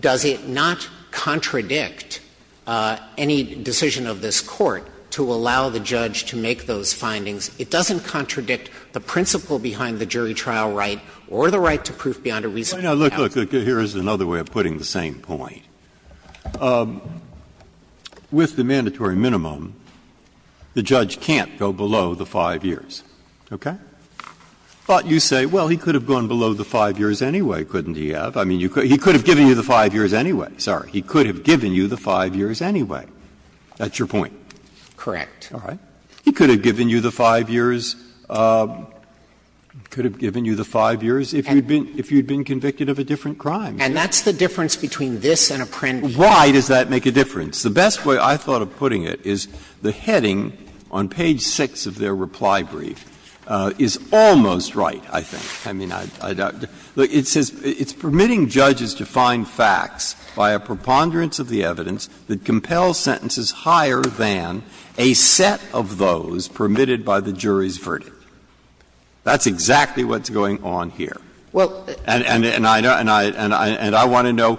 does it not contradict any decision of this Court to allow the judge to make those findings, it doesn't contradict the principle behind the jury trial right or the right to proof beyond a reasonable doubt. Now, look, look, here's another way of putting the same point. With the mandatory minimum, the judge can't go below the five years, okay? But you say, well, he could have gone below the five years anyway, couldn't he have? I mean, you could – he could have given you the five years anyway. Sorry. He could have given you the five years anyway. That's your point? Correct. All right. He could have given you the five years, could have given you the five years if you'd been convicted of a different crime. And that's the difference between this and a print. Why does that make a difference? The best way I thought of putting it is the heading on page 6 of their reply brief is almost right, I think. I mean, I doubt – it says it's permitting judges to find facts by a preponderance of the evidence that compels sentences higher than a set of those permitted by the jury's verdict. That's exactly what's going on here. Well, and I know – and I want to know,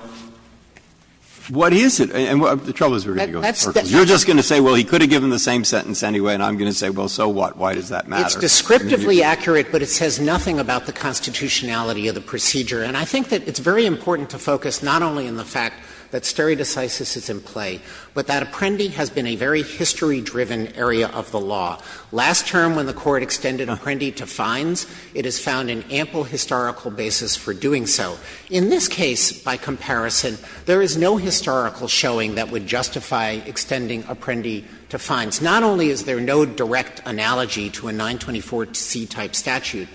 what is it? And the trouble is we're going to go in circles. You're just going to say, well, he could have given the same sentence anyway, and I'm going to say, well, so what? Why does that matter? It's descriptively accurate, but it says nothing about the constitutionality of the procedure. And I think that it's very important to focus not only on the fact that stereodicysis is in play, but that Apprendi has been a very history-driven area of the law. Last term when the Court extended Apprendi to fines, it has found an ample historical basis for doing so. In this case, by comparison, there is no historical showing that would justify extending Apprendi to fines. Not only is there no direct analogy to a 924c-type statute,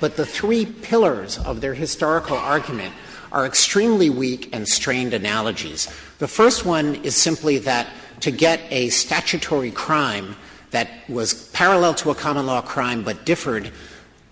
but the three pillars of their historical argument are extremely weak and strained analogies. The first one is simply that to get a statutory crime that was parallel to a common law crime but differed,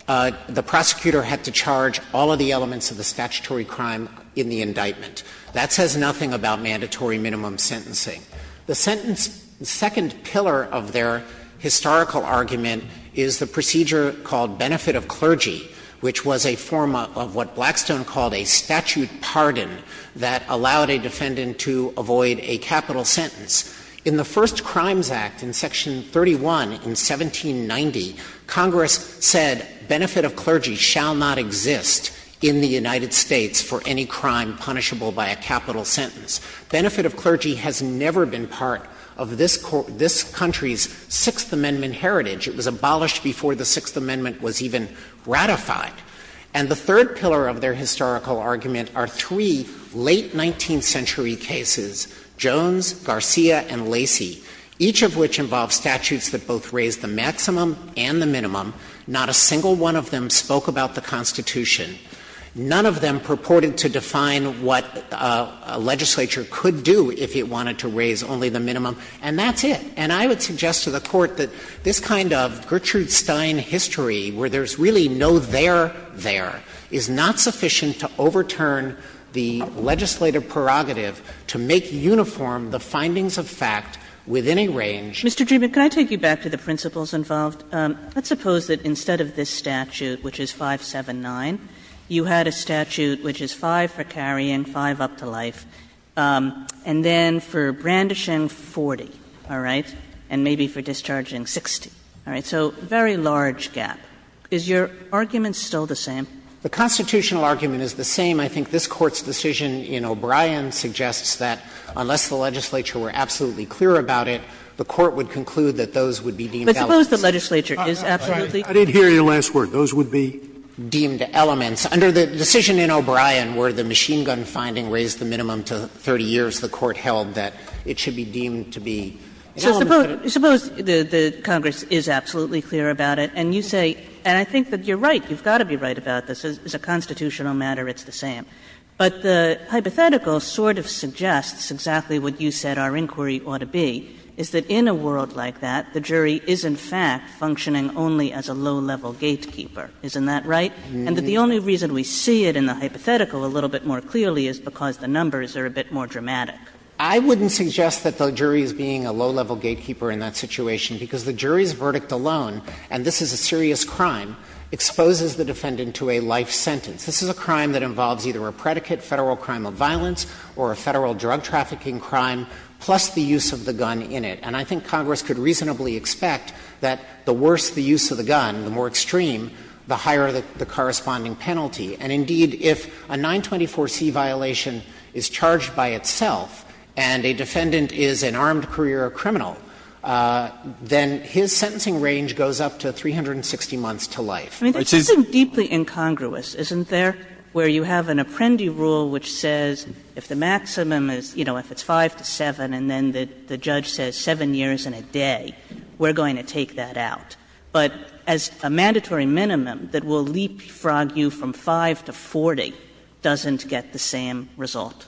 the prosecutor had to charge all of the elements of the statutory crime in the indictment. That says nothing about mandatory minimum sentencing. The sentence – the second pillar of their historical argument is the procedure called benefit of clergy, which was a form of what Blackstone called a statute pardon that allowed a defendant to avoid a capital sentence. In the first Crimes Act, in Section 31 in 1790, Congress said benefit of clergy shall not exist in the United States for any crime punishable by a capital sentence. Benefit of clergy has never been part of this country's Sixth Amendment heritage. It was abolished before the Sixth Amendment was even ratified. And the third pillar of their historical argument are three late 19th century cases, Jones, Garcia, and Lacey, each of which involved statutes that both raised the maximum and the minimum. Not a single one of them spoke about the Constitution. None of them purported to define what a legislature could do if it wanted to raise only the minimum, and that's it. And I would suggest to the Court that this kind of Gertrude Stein history, where there's really no there, there, is not sufficient to overturn the legislative prerogative to make uniform the findings of fact within a range. Kagan. Mr. Dreeben, can I take you back to the principles involved? Let's suppose that instead of this statute, which is 579, you had a statute which is 5 for carrying, 5 up to life, and then for brandishing, 40. All right? And maybe for discharging, 60. All right. So very large gap. Is your argument still the same? The constitutional argument is the same. I think this Court's decision in O'Brien suggests that unless the legislature were absolutely clear about it, the Court would conclude that those would be deemed elements. But suppose the legislature is absolutely clear. I did hear your last word. Those would be deemed elements. Under the decision in O'Brien where the machine gun finding raised the minimum to 30 years, the Court held that it should be deemed to be elements. Suppose the Congress is absolutely clear about it, and you say, and I think that you're right, you've got to be right about this. As a constitutional matter, it's the same. But the hypothetical sort of suggests exactly what you said our inquiry ought to be, is that in a world like that, the jury is, in fact, functioning only as a low-level gatekeeper. Isn't that right? And that the only reason we see it in the hypothetical a little bit more clearly is because the numbers are a bit more dramatic. I wouldn't suggest that the jury is being a low-level gatekeeper in that situation, because the jury's verdict alone, and this is a serious crime, exposes the defendant to a life sentence. This is a crime that involves either a predicate, Federal crime of violence, or a Federal drug trafficking crime, plus the use of the gun in it. And I think Congress could reasonably expect that the worse the use of the gun, the more extreme, the higher the corresponding penalty. And indeed, if a 924c violation is charged by itself and a defendant is an armed career criminal, then his sentencing range goes up to 360 months to life. Kagan. I mean, this is deeply incongruous, isn't there, where you have an apprendee rule which says if the maximum is, you know, if it's 5 to 7, and then the judge says 7 years and a day, we're going to take that out, but as a mandatory minimum that will leapfrog you from 5 to 40, doesn't get the same result?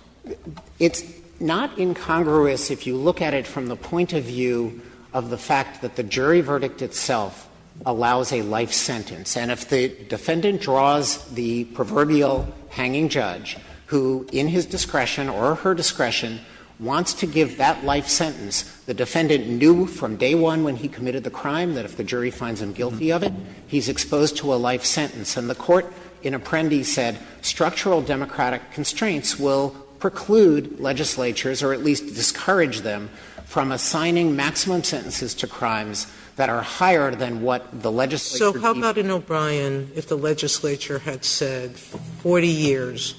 It's not incongruous if you look at it from the point of view of the fact that the jury verdict itself allows a life sentence. And if the defendant draws the proverbial hanging judge who, in his discretion or her discretion, wants to give that life sentence, the defendant knew from day one when he committed the crime that if the jury finds him guilty of it, he's exposed to a life sentence, and the court in Apprendi said structural democratic constraints will preclude legislatures, or at least discourage them, from assigning maximum sentences to crimes that are higher than what the legislature deems. Sotomayor, if the legislature had said 40 years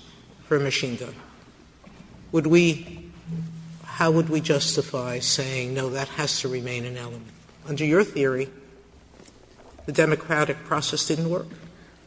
for a machine gun, would we – how would we justify saying, no, that has to remain an element? Under your theory, the democratic process didn't work?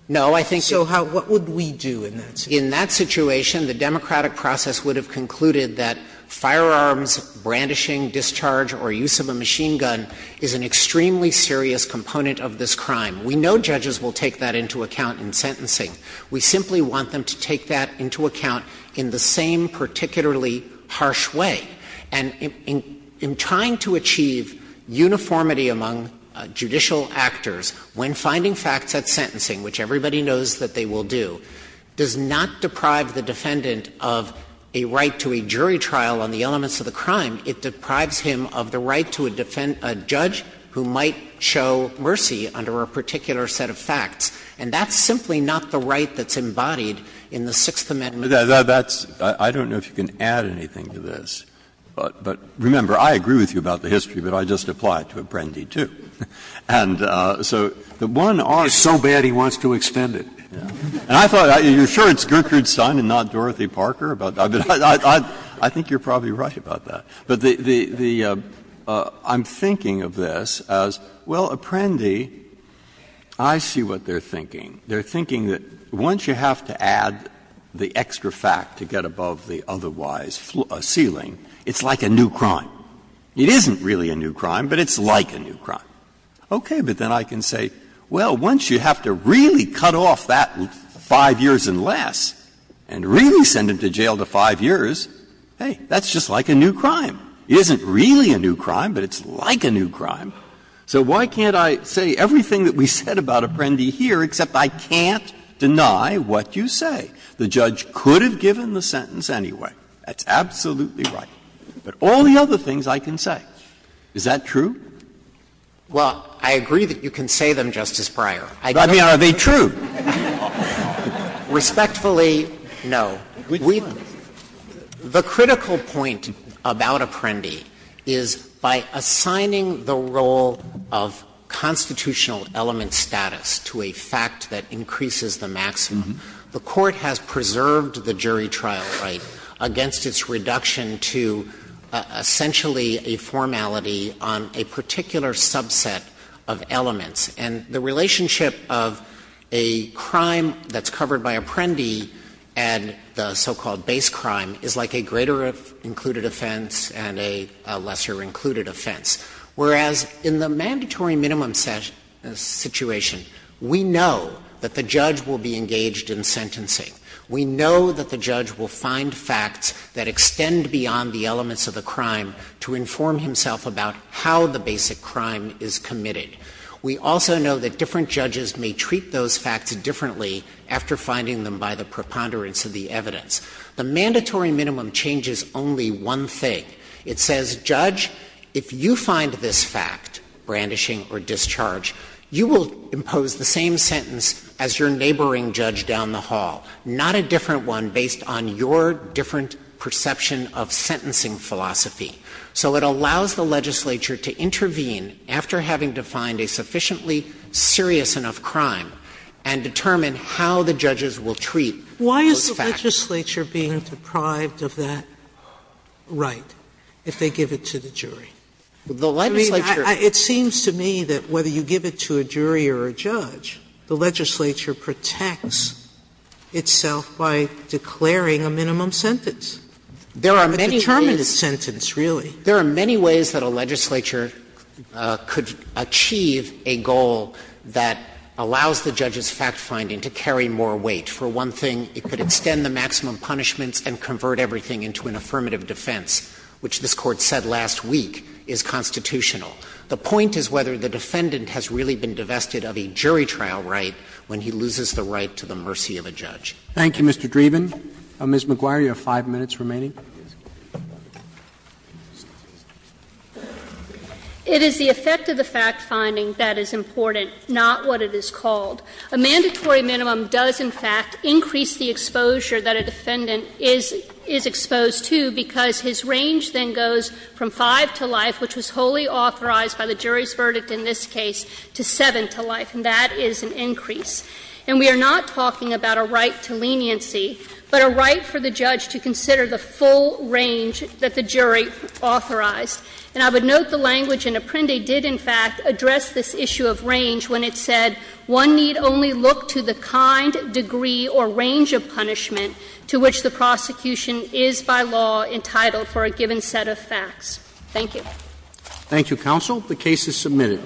No, I think it's – So how – what would we do in that situation? In that situation, the democratic process would have concluded that firearms, brandishing, discharge, or use of a machine gun is an extremely serious component of this crime. We know judges will take that into account in sentencing. We simply want them to take that into account in the same particularly harsh way. And in trying to achieve uniformity among judicial actors when finding facts at sentencing, which everybody knows that they will do, does not deprive the defendant of a right to a jury trial on the elements of the crime. It deprives him of the right to a judge who might show mercy under a particular set of facts. And that's simply not the right that's embodied in the Sixth Amendment. Breyer. That's – I don't know if you can add anything to this, but remember, I agree with you about the history, but I just apply it to Apprendi, too. And so the one – It's so bad he wants to extend it. And I thought – you're sure it's Gertrude Stein and not Dorothy Parker? I think you're probably right about that. But the – I'm thinking of this as, well, Apprendi, I see what they're thinking. They're thinking that once you have to add the extra fact to get above the otherwise ceiling, it's like a new crime. It isn't really a new crime, but it's like a new crime. Okay, but then I can say, well, once you have to really cut off that five years and less and really send him to jail to five years, hey, that's just like a new crime. It isn't really a new crime, but it's like a new crime. So why can't I say everything that we said about Apprendi here, except I can't deny what you say? The judge could have given the sentence anyway. That's absolutely right. But all the other things I can say. Is that true? Well, I agree that you can say them, Justice Breyer. I don't know. I mean, are they true? Respectfully, no. The critical point about Apprendi is by assigning the role of constitutional element status to a fact that increases the maximum, the Court has preserved the jury trial right against its reduction to essentially a formality on a particular subset of elements. And the relationship of a crime that's covered by Apprendi and the so-called base crime is like a greater included offense and a lesser included offense. Whereas in the mandatory minimum situation, we know that the judge will be engaged in sentencing. We know that the judge will find facts that extend beyond the elements of the crime to inform himself about how the basic crime is committed. We also know that different judges may treat those facts differently after finding them by the preponderance of the evidence. The mandatory minimum changes only one thing. It says, Judge, if you find this fact, brandishing or discharge, you will impose the same sentence as your neighboring judge down the hall. Not a different one based on your different perception of sentencing philosophy. So it allows the legislature to intervene after having defined a sufficiently serious enough crime and determine how the judges will treat those facts. Sotomayor Why is the legislature being deprived of that right if they give it to the jury? Sotomayor It seems to me that whether you give it to a jury or a judge, the legislature protects itself by declaring a minimum sentence. It's a determinate sentence, really. Dreeben There are many ways that a legislature could achieve a goal that allows the judge's fact-finding to carry more weight. For one thing, it could extend the maximum punishments and convert everything into an affirmative defense, which this Court said last week is constitutional. The point is whether the defendant has really been divested of a jury trial right when he loses the right to the mercy of a judge. Roberts Thank you, Mr. Dreeben. Ms. McGuire, you have five minutes remaining. McGuire It is the effect of the fact-finding that is important, not what it is called. A mandatory minimum does, in fact, increase the exposure that a defendant is exposed to because his range then goes from five to life, which was wholly authorized by the jury's verdict in this case, to seven to life, and that is an increase. And we are not talking about a right to leniency, but a right for the judge to consider the full range that the jury authorized. And I would note the language in Apprendi did, in fact, address this issue of range when it said one need only look to the kind, degree, or range of punishment to which the prosecution is by law entitled for a given set of facts. Thank you. Roberts Thank you, counsel. The case is submitted.